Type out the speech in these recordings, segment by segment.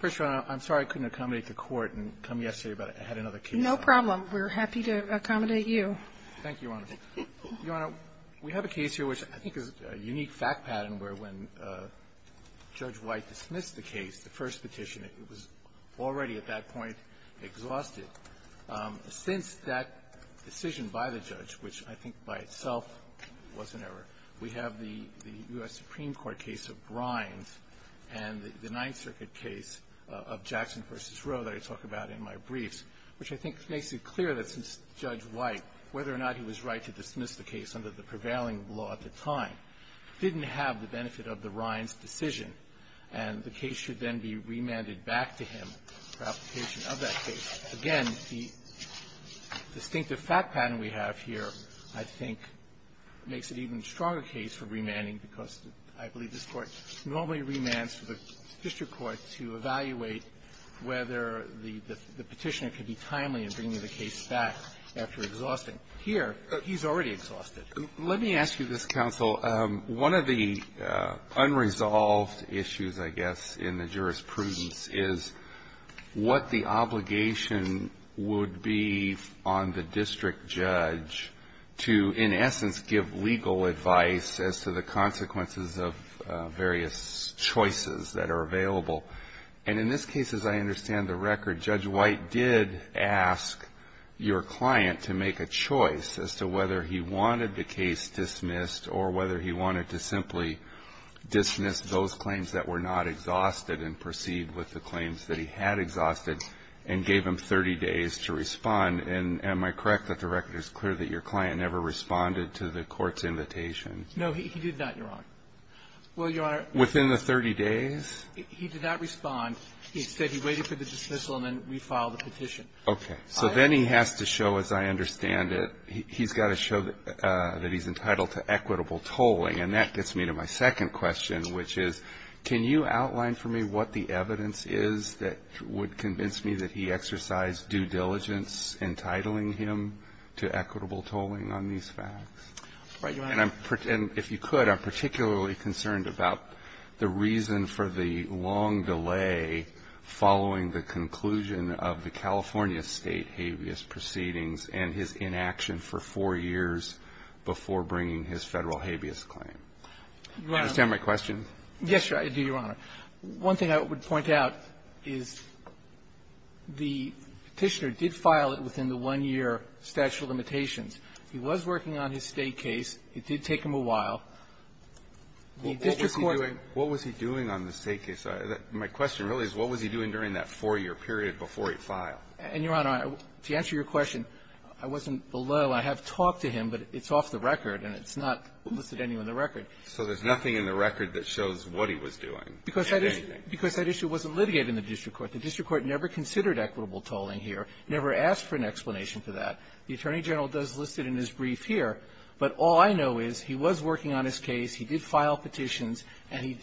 First, Your Honor, I'm sorry I couldn't accommodate the Court and come yesterday but I had another case. No problem. We're happy to accommodate you. Thank you, Your Honor. Your Honor, we have a case here which I think is a unique fact pattern where when Judge White dismissed the case, the first petition, it was already at that point exhausted. Since that decision by the judge, which I think by itself was an error, we have the U.S. Supreme Court case of Rines and the Ninth Circuit case of Jackson v. Rowe that I talk about in my briefs, which I think makes it clear that since Judge White, whether or not he was right to dismiss the case under the prevailing law at the time, didn't have the benefit of the Rines decision and the case should then be remanded back to him for application of that case, again, the distinctive fact pattern we have here I think makes it an even stronger case for remanding because I believe this Court normally remands to the district court to evaluate whether the petitioner could be timely in bringing the case back after exhausting. Here, he's already exhausted. Let me ask you this, counsel. One of the unresolved issues, I guess, in the jurisprudence is what the obligation would be on the district judge to, in essence, give legal advice as to the consequences of various choices that are available. And in this case, as I understand the record, Judge White did ask your client to make a choice as to whether he wanted the case dismissed or whether he wanted to simply dismiss those claims that were not exhausted and proceed with the claims that he had exhausted and gave him 30 days to respond. And am I correct that the record is clear that your client never responded to the Court's invitation? No, he did not, Your Honor. Well, Your Honor ---- Within the 30 days? He did not respond. Instead, he waited for the dismissal and then refiled the petition. Okay. So then he has to show, as I understand it, he's got to show that he's entitled to equitable tolling. And that gets me to my second question, which is, can you outline for me what the evidence is that would convince me that he exercised due diligence entitling him to equitable tolling on these facts? Right, Your Honor. And if you could, I'm particularly concerned about the reason for the long delay following the conclusion of the California State habeas proceedings and his inaction for four years before bringing his Federal habeas claim. Your Honor ---- Do you understand my question? Yes, Your Honor. One thing I would point out is the Petitioner did file it within the one-year statute of limitations. He was working on his State case. It did take him a while. The district court ---- What was he doing on the State case? My question really is, what was he doing during that four-year period before he filed? And, Your Honor, to answer your question, I wasn't below. I have talked to him, but it's off the record, and it's not listed anywhere in the record. So there's nothing in the record that shows what he was doing or anything? Because that issue wasn't litigated in the district court. The district court never considered equitable tolling here, never asked for an explanation for that. The Attorney General does list it in his brief here. But all I know is he was working on his case. He did file petitions, and he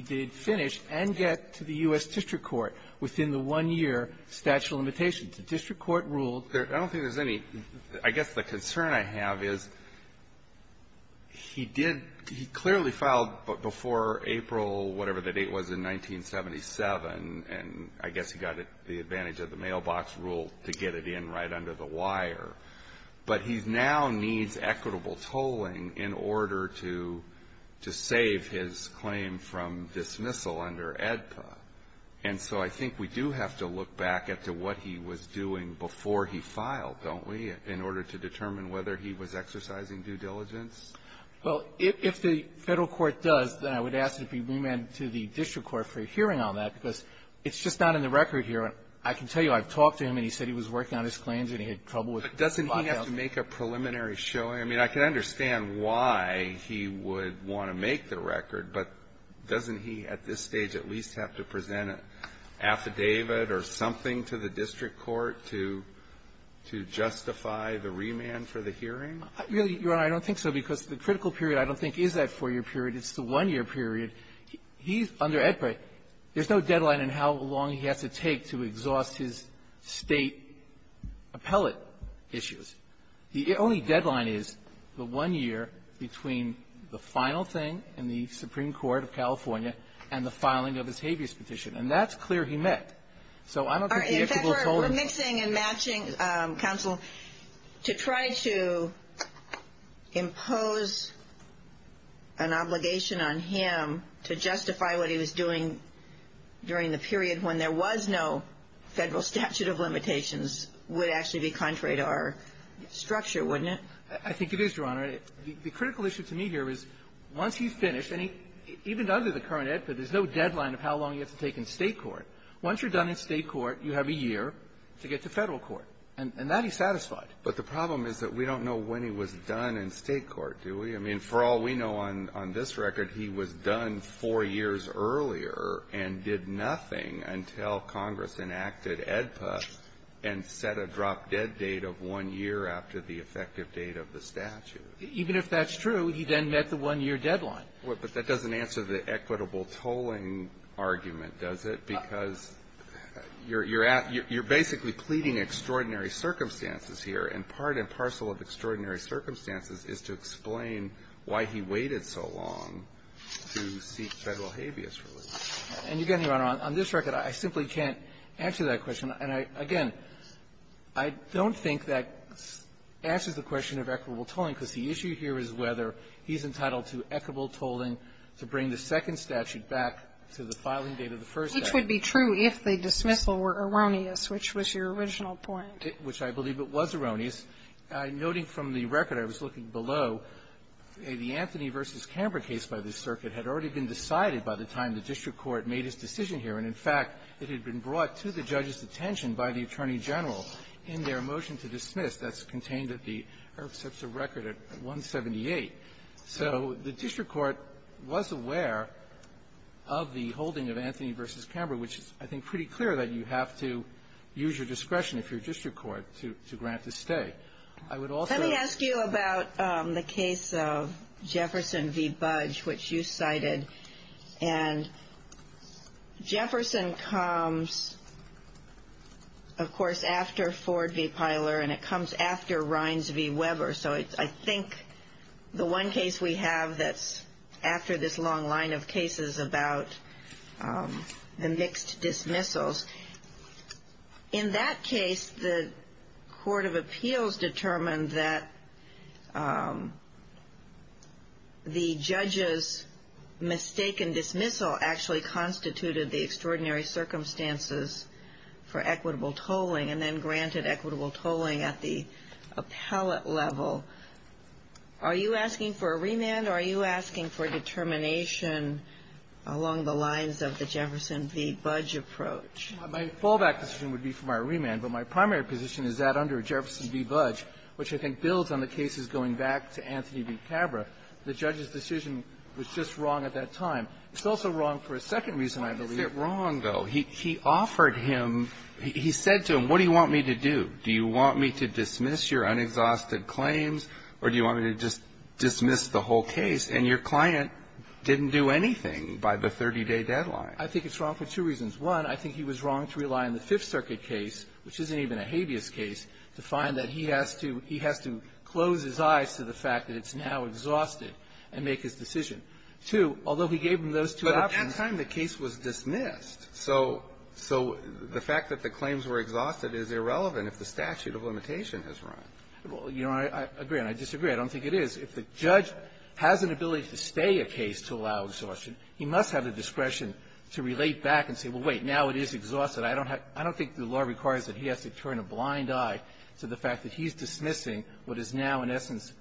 did finish and get to the U.S. district court within the one-year statute of limitations. The district court ruled ---- I don't think there's any ---- I guess the concern I have is he did ---- he clearly filed before April whatever the date was in 1977, and I guess he got the advantage of the mailbox rule to get it in right under the wire. But he now needs equitable tolling in order to save his claim from dismissal under AEDPA. And so I think we do have to look back at what he was doing before he filed, don't we, in order to determine whether he was exercising due diligence? Well, if the Federal court does, then I would ask if he remanded to the district court for a hearing on that, because it's just not in the record here. I can tell you I've talked to him, and he said he was working on his claims and he had trouble with the lockdown. But doesn't he have to make a preliminary showing? I mean, I can understand why he would want to make the record, but doesn't he at this point have to present an affidavit or something to the district court to justify the remand for the hearing? Really, Your Honor, I don't think so, because the critical period, I don't think, is that four-year period. It's the one-year period. He's under AEDPA. There's no deadline in how long he has to take to exhaust his State appellate issues. The only deadline is the one year between the final thing in the Supreme Court of California and the filing of his habeas petition. And that's clear he met. So I don't think the if-able told him. In fact, we're mixing and matching, Counsel, to try to impose an obligation on him to justify what he was doing during the period when there was no Federal statute of limitations would actually be contrary to our structure, wouldn't it? I think it is, Your Honor. The critical issue to me here is once he's finished, and he even under the current AEDPA, there's no deadline of how long he has to take in State court. Once you're done in State court, you have a year to get to Federal court. And that he's satisfied. But the problem is that we don't know when he was done in State court, do we? I mean, for all we know on this record, he was done four years earlier and did nothing until Congress enacted AEDPA and set a drop-dead date of one year after the effective date of the statute. Even if that's true, he then met the one-year deadline. But that doesn't answer the equitable tolling argument, does it? Because you're basically pleading extraordinary circumstances here, and part and parcel of extraordinary circumstances is to explain why he waited so long to seek Federal habeas relief. And again, Your Honor, on this record, I simply can't answer that question. And I, again, I don't think that answers the question of equitable tolling, because the issue here is whether he's entitled to equitable tolling to bring the second statute back to the filing date of the first statute. Sotomayor, which would be true if the dismissal were erroneous, which was your original point. Which I believe it was erroneous. I'm noting from the record, I was looking below, the Anthony v. Camber case by this circuit had already been decided by the time the district court made its decision here. And, in fact, it had been brought to the judge's attention by the Attorney General in their motion to dismiss that's contained at the IRF-CPSA record at 178. So the district court was aware of the holding of Anthony v. Camber, which is, I think, pretty clear that you have to use your discretion if you're district court to grant the stay. I would also ask you about the case of Jefferson v. Budge, which you cited. And Jefferson comes, of course, after Ford v. Pyler, and it comes after Rinds v. Weber. So I think the one case we have that's after this long line of cases about the mixed dismissals, in that case, the Court of Appeals determined that the judge's mistake in dismissal actually constituted the extraordinary circumstances for equitable tolling, and then granted equitable tolling at the appellate level. Are you asking for a remand, or are you asking for determination along the lines of the Jefferson v. Budge approach? My fallback decision would be for my remand, but my primary position is that under Jefferson v. Budge, which I think builds on the cases going back to Anthony v. Camber, the judge's decision was just wrong at that time. It's also wrong for a second reason, I believe. Why is it wrong, though? He offered him, he said to him, what do you want me to do? Do you want me to dismiss your unexhausted claims, or do you want me to just dismiss the whole case? And your client didn't do anything by the 30-day deadline. I think it's wrong for two reasons. One, I think he was wrong to rely on the Fifth Amendment to be exhausted and make his decision. Two, although he gave him those two options. But at that time, the case was dismissed. So the fact that the claims were exhausted is irrelevant if the statute of limitation has run. Well, you know, I agree and I disagree. I don't think it is. If the judge has an ability to stay a case to allow exhaustion, he must have the discretion to relate back and say, well, wait, now it is exhausted. I don't think the law requires that he has to turn a blind eye to the fact that he's dismissing what is now, in essence,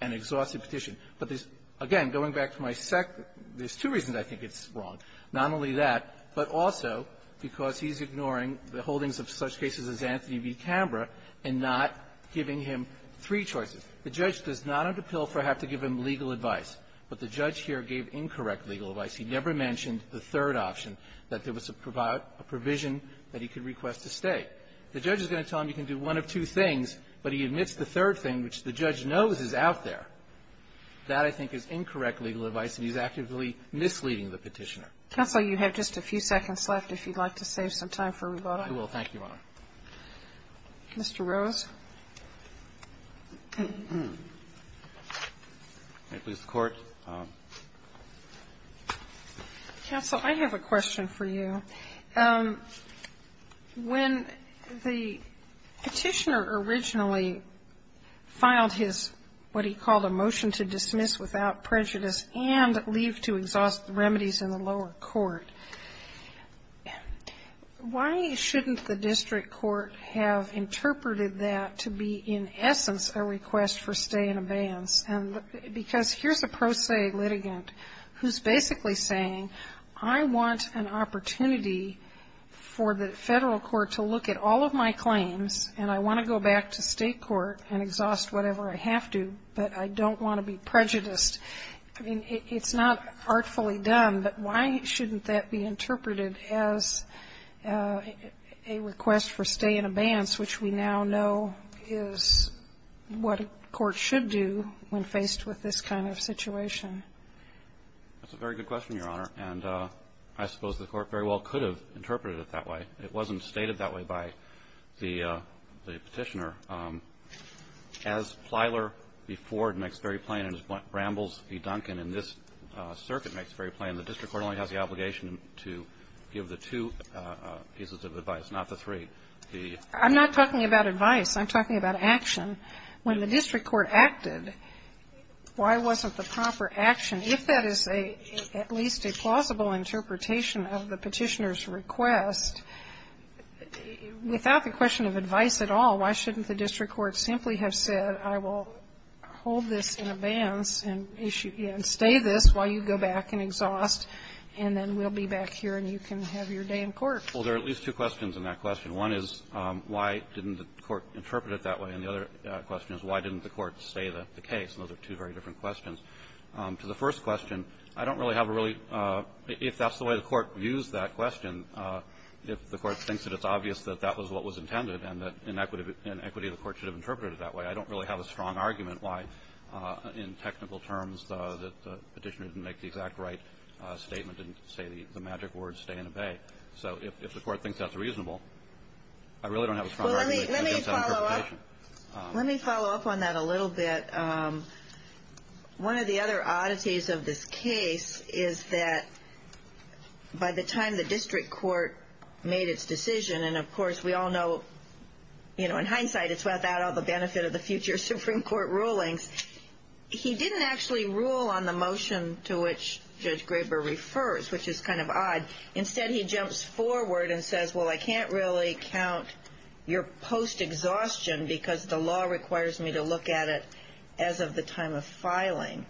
an exhaustive petition. But there's, again, going back to my second, there's two reasons I think it's wrong, not only that, but also because he's ignoring the holdings of such cases as Anthony v. Canberra and not giving him three choices. The judge does not under Pilfer have to give him legal advice, but the judge here gave incorrect legal advice. He never mentioned the third option, that there was a provision that he could request to stay. The judge is going to tell him you can do one of two things, but he admits the third thing, which the judge knows is out there. That, I think, is incorrect legal advice, and he's actively misleading the Petitioner. Counsel, you have just a few seconds left, if you'd like to save some time for rebuttal. I will. Thank you, Your Honor. Mr. Rose. May it please the Court. Counsel, I have a question for you. When the Petitioner originally filed his, what he called a motion to dismiss without prejudice and leave to exhaust the remedies in the lower court, why shouldn't the district court have interpreted that to be, in essence, a request for stay in abeyance? Because here's a pro se litigant who's basically saying, I want an opportunity for the Federal court to look at all of my claims, and I want to go back to State court and exhaust whatever I have to, but I don't want to be prejudiced. I mean, it's not artfully done, but why shouldn't that be interpreted as a request for stay in abeyance, which we now know is what a court should do when faced with this kind of situation? That's a very good question, Your Honor. And I suppose the Court very well could have interpreted it that way. It wasn't stated that way by the Petitioner. As Plyler v. Ford makes very plain, and as Bramble v. Duncan in this circuit makes very plain, the district court only has the obligation to give the two pieces of advice, not the three. I'm not talking about advice. I'm talking about action. When the district court acted, why wasn't the proper action, if that is at least a plausible interpretation of the Petitioner's request, without the question of advice at all, why shouldn't the district court simply have said, I will hold this in abeyance and stay this while you go back and exhaust, and then we'll be back here and you can have your day in court? Well, there are at least two questions in that question. One is, why didn't the Court interpret it that way? And the other question is, why didn't the Court say the case? And those are two very different questions. To the first question, I don't really have a really – if that's the way the Court views that question, if the Court thinks that it's obvious that that was what was intended and that in equity the Court should have interpreted it that way, I don't really have a strong argument why, in technical terms, the Petitioner didn't make the exact right statement and say the magic word, stay and obey. So, if the Court thinks that's reasonable, I really don't have a strong argument against that interpretation. Well, let me follow up. Let me follow up on that a little bit. One of the other oddities of this case is that by the time the district court made its decision, and of course we all know in hindsight it's without all the benefit of the future Supreme Court rulings, he didn't actually rule on the motion to which Judge Graber refers, which is kind of odd. Instead, he jumps forward and says, well, I can't really count your post-exhaustion because the law requires me to look at it as of the time of filing.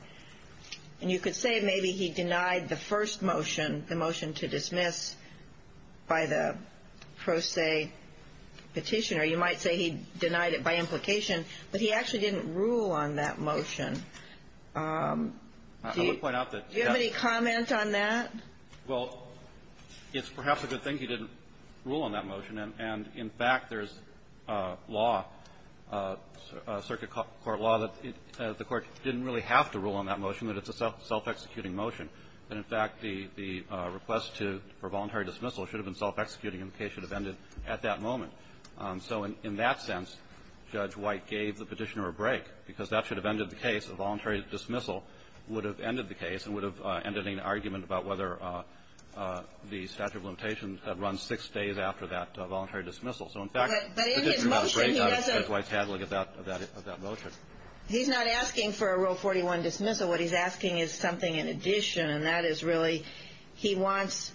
And you could say maybe he denied the first motion, the motion to dismiss, by the pro se Petitioner. You might say he denied it by implication, but he actually didn't rule on that motion. Do you have any comment on that? Well, it's perhaps a good thing he didn't rule on that motion. And in fact, there's law, circuit court law, that the Court didn't really have to rule on that motion, that it's a self-executing motion. And in fact, the request to for voluntary dismissal should have been self-executing and the case should have ended at that moment. So in that sense, Judge White gave the Petitioner a break because that should have ended the case. A voluntary dismissal would have ended the case and would have ended an argument about whether the statute of limitations had run six days after that voluntary dismissal. So in fact, the Petitioner got a break, Judge White had to look at that motion. He's not asking for a Rule 41 dismissal. What he's asking is something in addition, and that is really he wants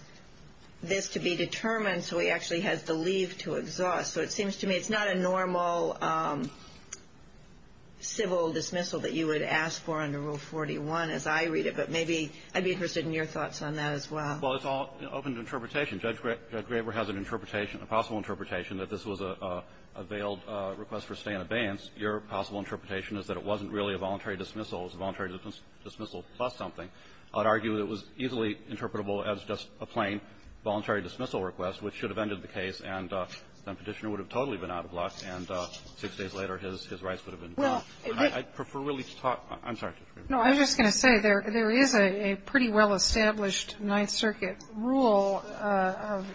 this to be determined so he actually has the leave to exhaust. So it seems to me it's not a normal civil dismissal that you would ask for under Rule 41 as I read it. But maybe I'd be interested in your thoughts on that as well. Well, it's all open to interpretation. Judge Graber has an interpretation, a possible interpretation, that this was a veiled request for stay in abeyance. Your possible interpretation is that it wasn't really a voluntary dismissal. It was a voluntary dismissal plus something. I would argue that it was easily interpretable as just a plain voluntary dismissal request, which should have ended the case, and then Petitioner would have totally been out of luck, and six days later his rights would have been done. I'd prefer really to talk to you. No, I'm just going to say there is a pretty well-established Ninth Circuit rule of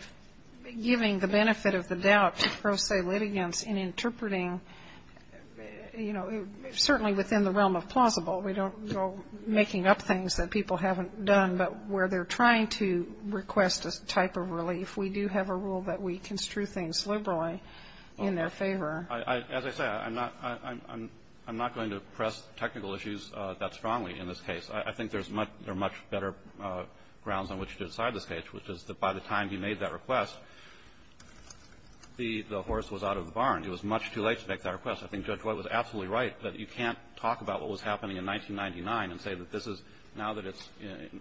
giving the benefit of the doubt to pro se litigants in interpreting, you know, certainly within the realm of plausible. We don't go making up things that people haven't done, but where they're trying to request a type of relief, we do have a rule that we construe things liberally in their favor. As I say, I'm not going to press technical issues that strongly in this case. I think there's much better grounds on which to decide this case, which is that by the time he made that request, the horse was out of the barn. It was much too late to make that request. I think Judge White was absolutely right that you can't talk about what was happening in 1999 and say that this is now that it's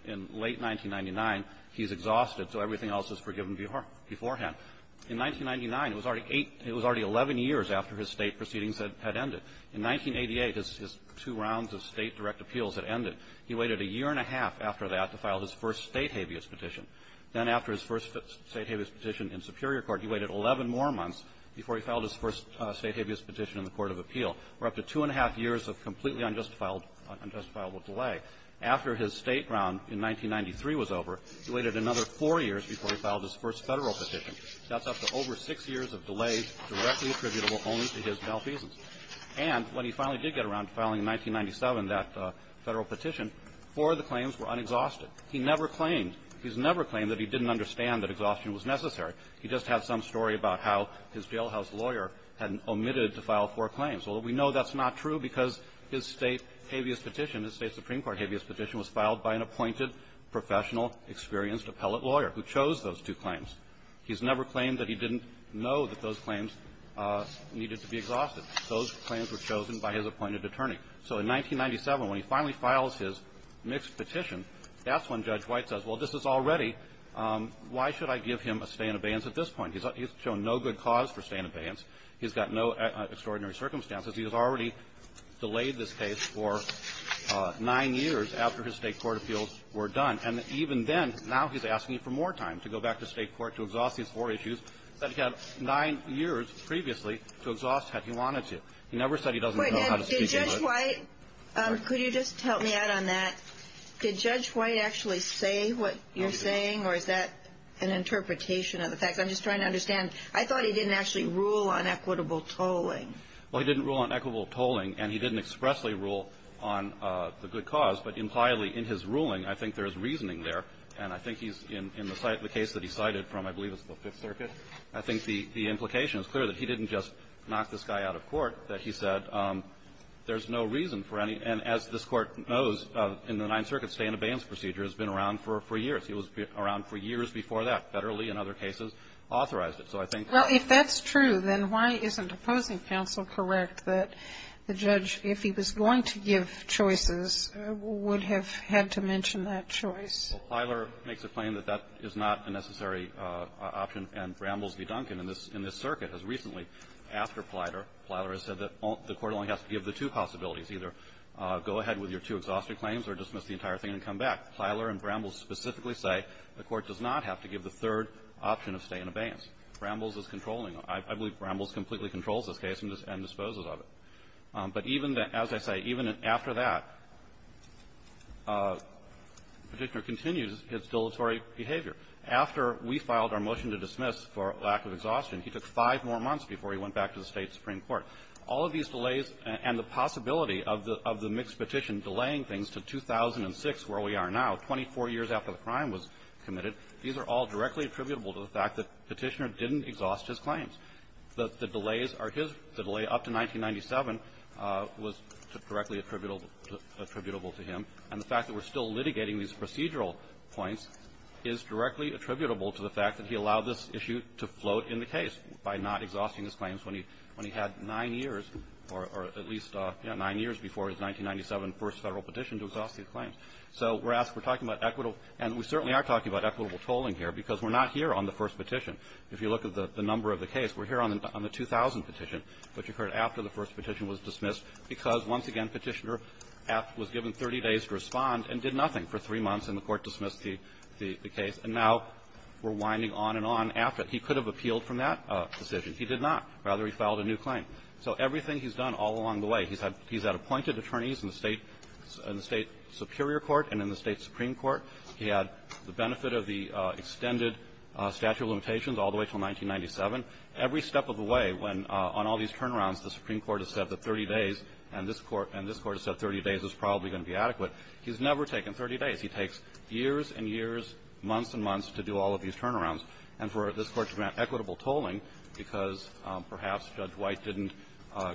in late 1999, he's exhausted, so everything else is forgiven beforehand. In 1999, it was already eight — it was already 11 years after his State proceedings had ended. In 1988, his two rounds of State direct appeals had ended. He waited a year and a half after that to file his first State habeas petition. Then after his first State habeas petition in Superior Court, he waited 11 more months before he filed his first State habeas petition in the court of appeal, for up to two and a half years of completely unjustifiable delay. After his State round in 1993 was over, he waited another four years before he filed his first Federal petition. That's up to over six years of delay directly attributable only to his malfeasance. And when he finally did get around to filing in 1997 that Federal petition, four of the claims were unexhausted. He never claimed — he's never claimed that he didn't understand that exhaustion was necessary. He just had some story about how his jailhouse lawyer had omitted to file four claims. Although we know that's not true because his State habeas petition, his State Supreme Court habeas petition, was filed by an appointed, professional, experienced appellate lawyer who chose those two claims. He's never claimed that he didn't know that those claims needed to be exhausted. Those claims were chosen by his appointed attorney. So in 1997, when he finally files his mixed petition, that's when Judge White says, well, this is all ready. Why should I give him a stay in abeyance at this point? He's shown no good cause for stay in abeyance. He's got no extraordinary circumstances. He has already delayed this case for nine years after his State court appeals were done. And even then, now he's asking for more time to go back to State court to exhaust these four issues that he had nine years previously to exhaust had he wanted to. He never said he doesn't know how to speak English. Wait. Did Judge White — could you just help me out on that? Did Judge White actually say what you're saying, or is that an interpretation of the facts? I'm just trying to understand. I thought he didn't actually rule on equitable tolling. Well, he didn't rule on equitable tolling, and he didn't expressly rule on the good cause. But impliedly, in his ruling, I think there's reasoning there. And I think he's — in the case that he cited from, I believe it's the Fifth Circuit, I think the implication is clear that he didn't just knock this guy out of court, that he said there's no reason for any — and as this Court knows, in the Ninth Circuit, stay in abeyance procedure has been around for years. It was around for years before that. Federally, in other cases, authorized it. So I think — Well, if that's true, then why isn't opposing counsel correct that the judge, if he was going to give choices, would have had to mention that choice? Well, Plyler makes a claim that that is not a necessary option, and Brambles v. Duncan in this — in this circuit has recently asked for Plyler. Plyler has said that the Court only has to give the two possibilities, either go ahead with your two exhaustive claims or dismiss the entire thing and come back. Plyler and Brambles specifically say the Court does not have to give the third option of stay in abeyance. Brambles is controlling. I believe Brambles completely controls this case and disposes of it. But even — as I say, even after that, Petitioner continues his dilatory behavior. After we filed our motion to dismiss for lack of exhaustion, he took five more months before he went back to the State supreme court. All of these delays and the possibility of the — of the mixed petition delaying things to 2006, where we are now, 24 years after the crime was committed, these are all directly attributable to the fact that Petitioner didn't exhaust his claims. The delays are his. The delay up to 1997 was directly attributable to him. And the fact that we're still litigating these procedural points is directly attributable to the fact that he allowed this issue to float in the case by not exhausting his claims when he — when he had nine years, or at least, you know, nine years before his 1997 first Federal petition to exhaust his claims. So we're asked — we're talking about equitable — and we certainly are talking about equitable tolling here because we're not here on the first petition. If you look at the number of the case, we're here on the — on the 2000 petition, which occurred after the first petition was dismissed because, once again, Petitioner was given 30 days to respond and did nothing for three months, and the Court dismissed the — the case. And now we're winding on and on after. He could have appealed from that decision. He did not. Rather, he filed a new claim. So everything he's done all along the way, he's had — he's had appointed attorneys in the State — in the State superior court and in the State supreme court. He had the benefit of the extended statute of limitations all the way until 1997. Every step of the way, when on all these turnarounds, the Supreme Court has said that 30 days and this Court — and this Court has said 30 days is probably going to be adequate. He's never taken 30 days. He takes years and years, months and months to do all of these turnarounds. And for this Court to grant equitable tolling because perhaps Judge White didn't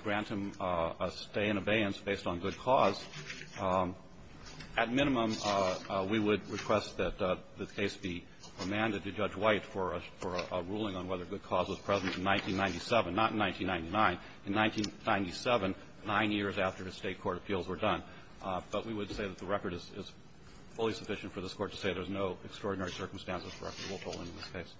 grant him a stay in abeyance based on good cause, at minimum, we would request that the case be remanded to Judge White for a — for a ruling on whether good cause was present in 1997, not in 1999. In 1997, nine years after the State court appeals were done. But we would say that the record is fully sufficient for this Court to say there's no extraordinary circumstances for equitable tolling in this case.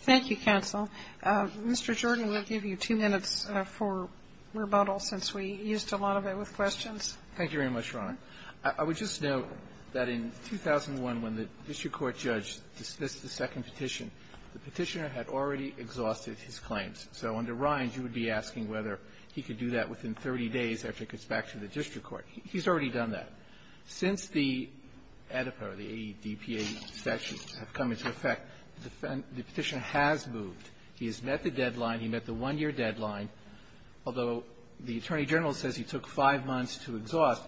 Thank you, counsel. Mr. Jordan, we'll give you two minutes for rebuttal since we used a lot of it with questions. Thank you very much, Your Honor. I would just note that in 2001, when the district court judge dismissed the second petition, the petitioner had already exhausted his claims. So under Rindge, you would be asking whether he could do that within 30 days after it gets back to the district court. He's already done that. Since the AEDPA or the AEDPA statutes have come into effect, the petitioner has moved. He has met the deadline. He met the one-year deadline. Although the attorney general says he took five months to exhaust,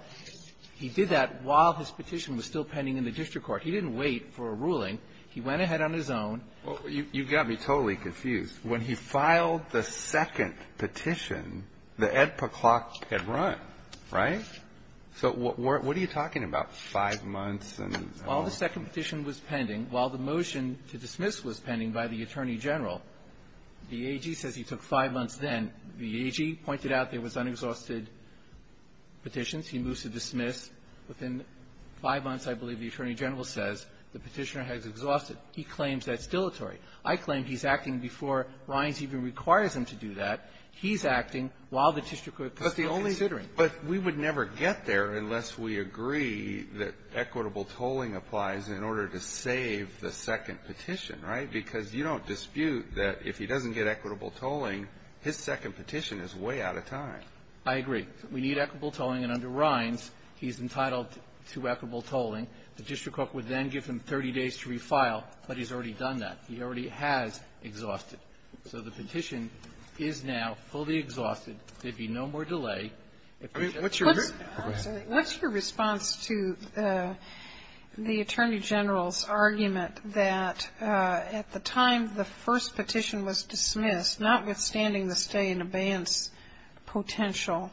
he did that while his petition was still pending in the district court. He didn't wait for a ruling. He went ahead on his own. Well, you got me totally confused. When he filed the second petition, the AEDPA clock had run, right? So what are you talking about, five months and how long? While the second petition was pending, while the motion to dismiss was pending by the attorney general, the AG says he took five months then. The AG pointed out there was unexhausted petitions. He moves to dismiss. Within five months, I believe the attorney general says, the petitioner has exhausted. He claims that's dilatory. I claim he's acting before Rindge even requires him to do that. He's acting while the district court is still considering. But we would never get there unless we agree that equitable tolling applies in order to save the second petition, right? Because you don't dispute that if he doesn't get equitable tolling, his second petition is way out of time. I agree. We need equitable tolling, and under Rindge, he's entitled to equitable tolling. The district court would then give him 30 days to refile, but he's already done that. He already has exhausted. So the petition is now fully exhausted. There'd be no more delay. What's your response to the attorney general's argument that at the time the first petition was dismissed, notwithstanding the stay-in-abeyance potential,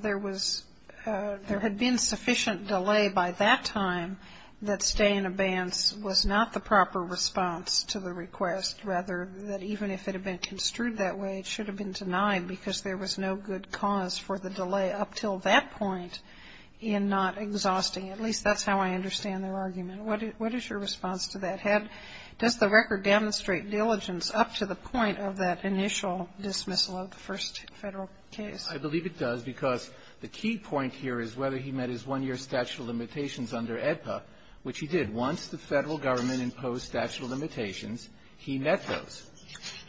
there was there had been sufficient delay by that time that stay-in-abeyance was not the proper response to the request, rather that even if it had been construed that way, it should have been denied because there was no good cause for the delay up till that point in not exhausting. At least that's how I understand their argument. What is your response to that? Had the record demonstrate diligence up to the point of that initial dismissal of the first Federal case? I believe it does, because the key point here is whether he met his one-year statute of limitations under AEDPA, which he did. Once the Federal government imposed statute of limitations, he met those.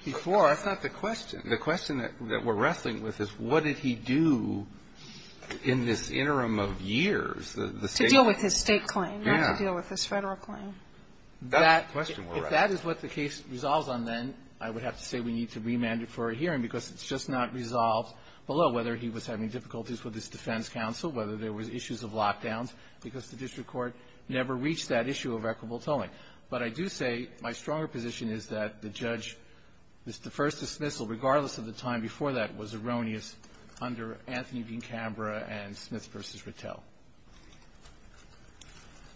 Before, I thought the question that we're wrestling with is what did he do in this interim of years, the state claim? To deal with his state claim, not to deal with his Federal claim. That's the question we're wrestling with. If that is what the case resolves on, then I would have to say we need to remand it for a hearing, because it's just not resolved below, whether he was having difficulties with his defense counsel, whether there was issues of lockdowns, because the district court never reached that issue of equitable tolling. But I do say my stronger position is that the judge, the first dismissal, regardless of the time before that, was erroneous under Anthony v. Canberra and Smith v. Rattel.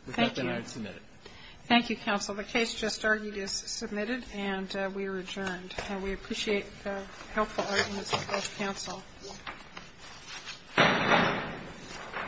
If that's what I would submit it. Thank you, counsel. The case just argued is submitted, and we are adjourned. And we appreciate the helpful arguments of both counsel. Thank you.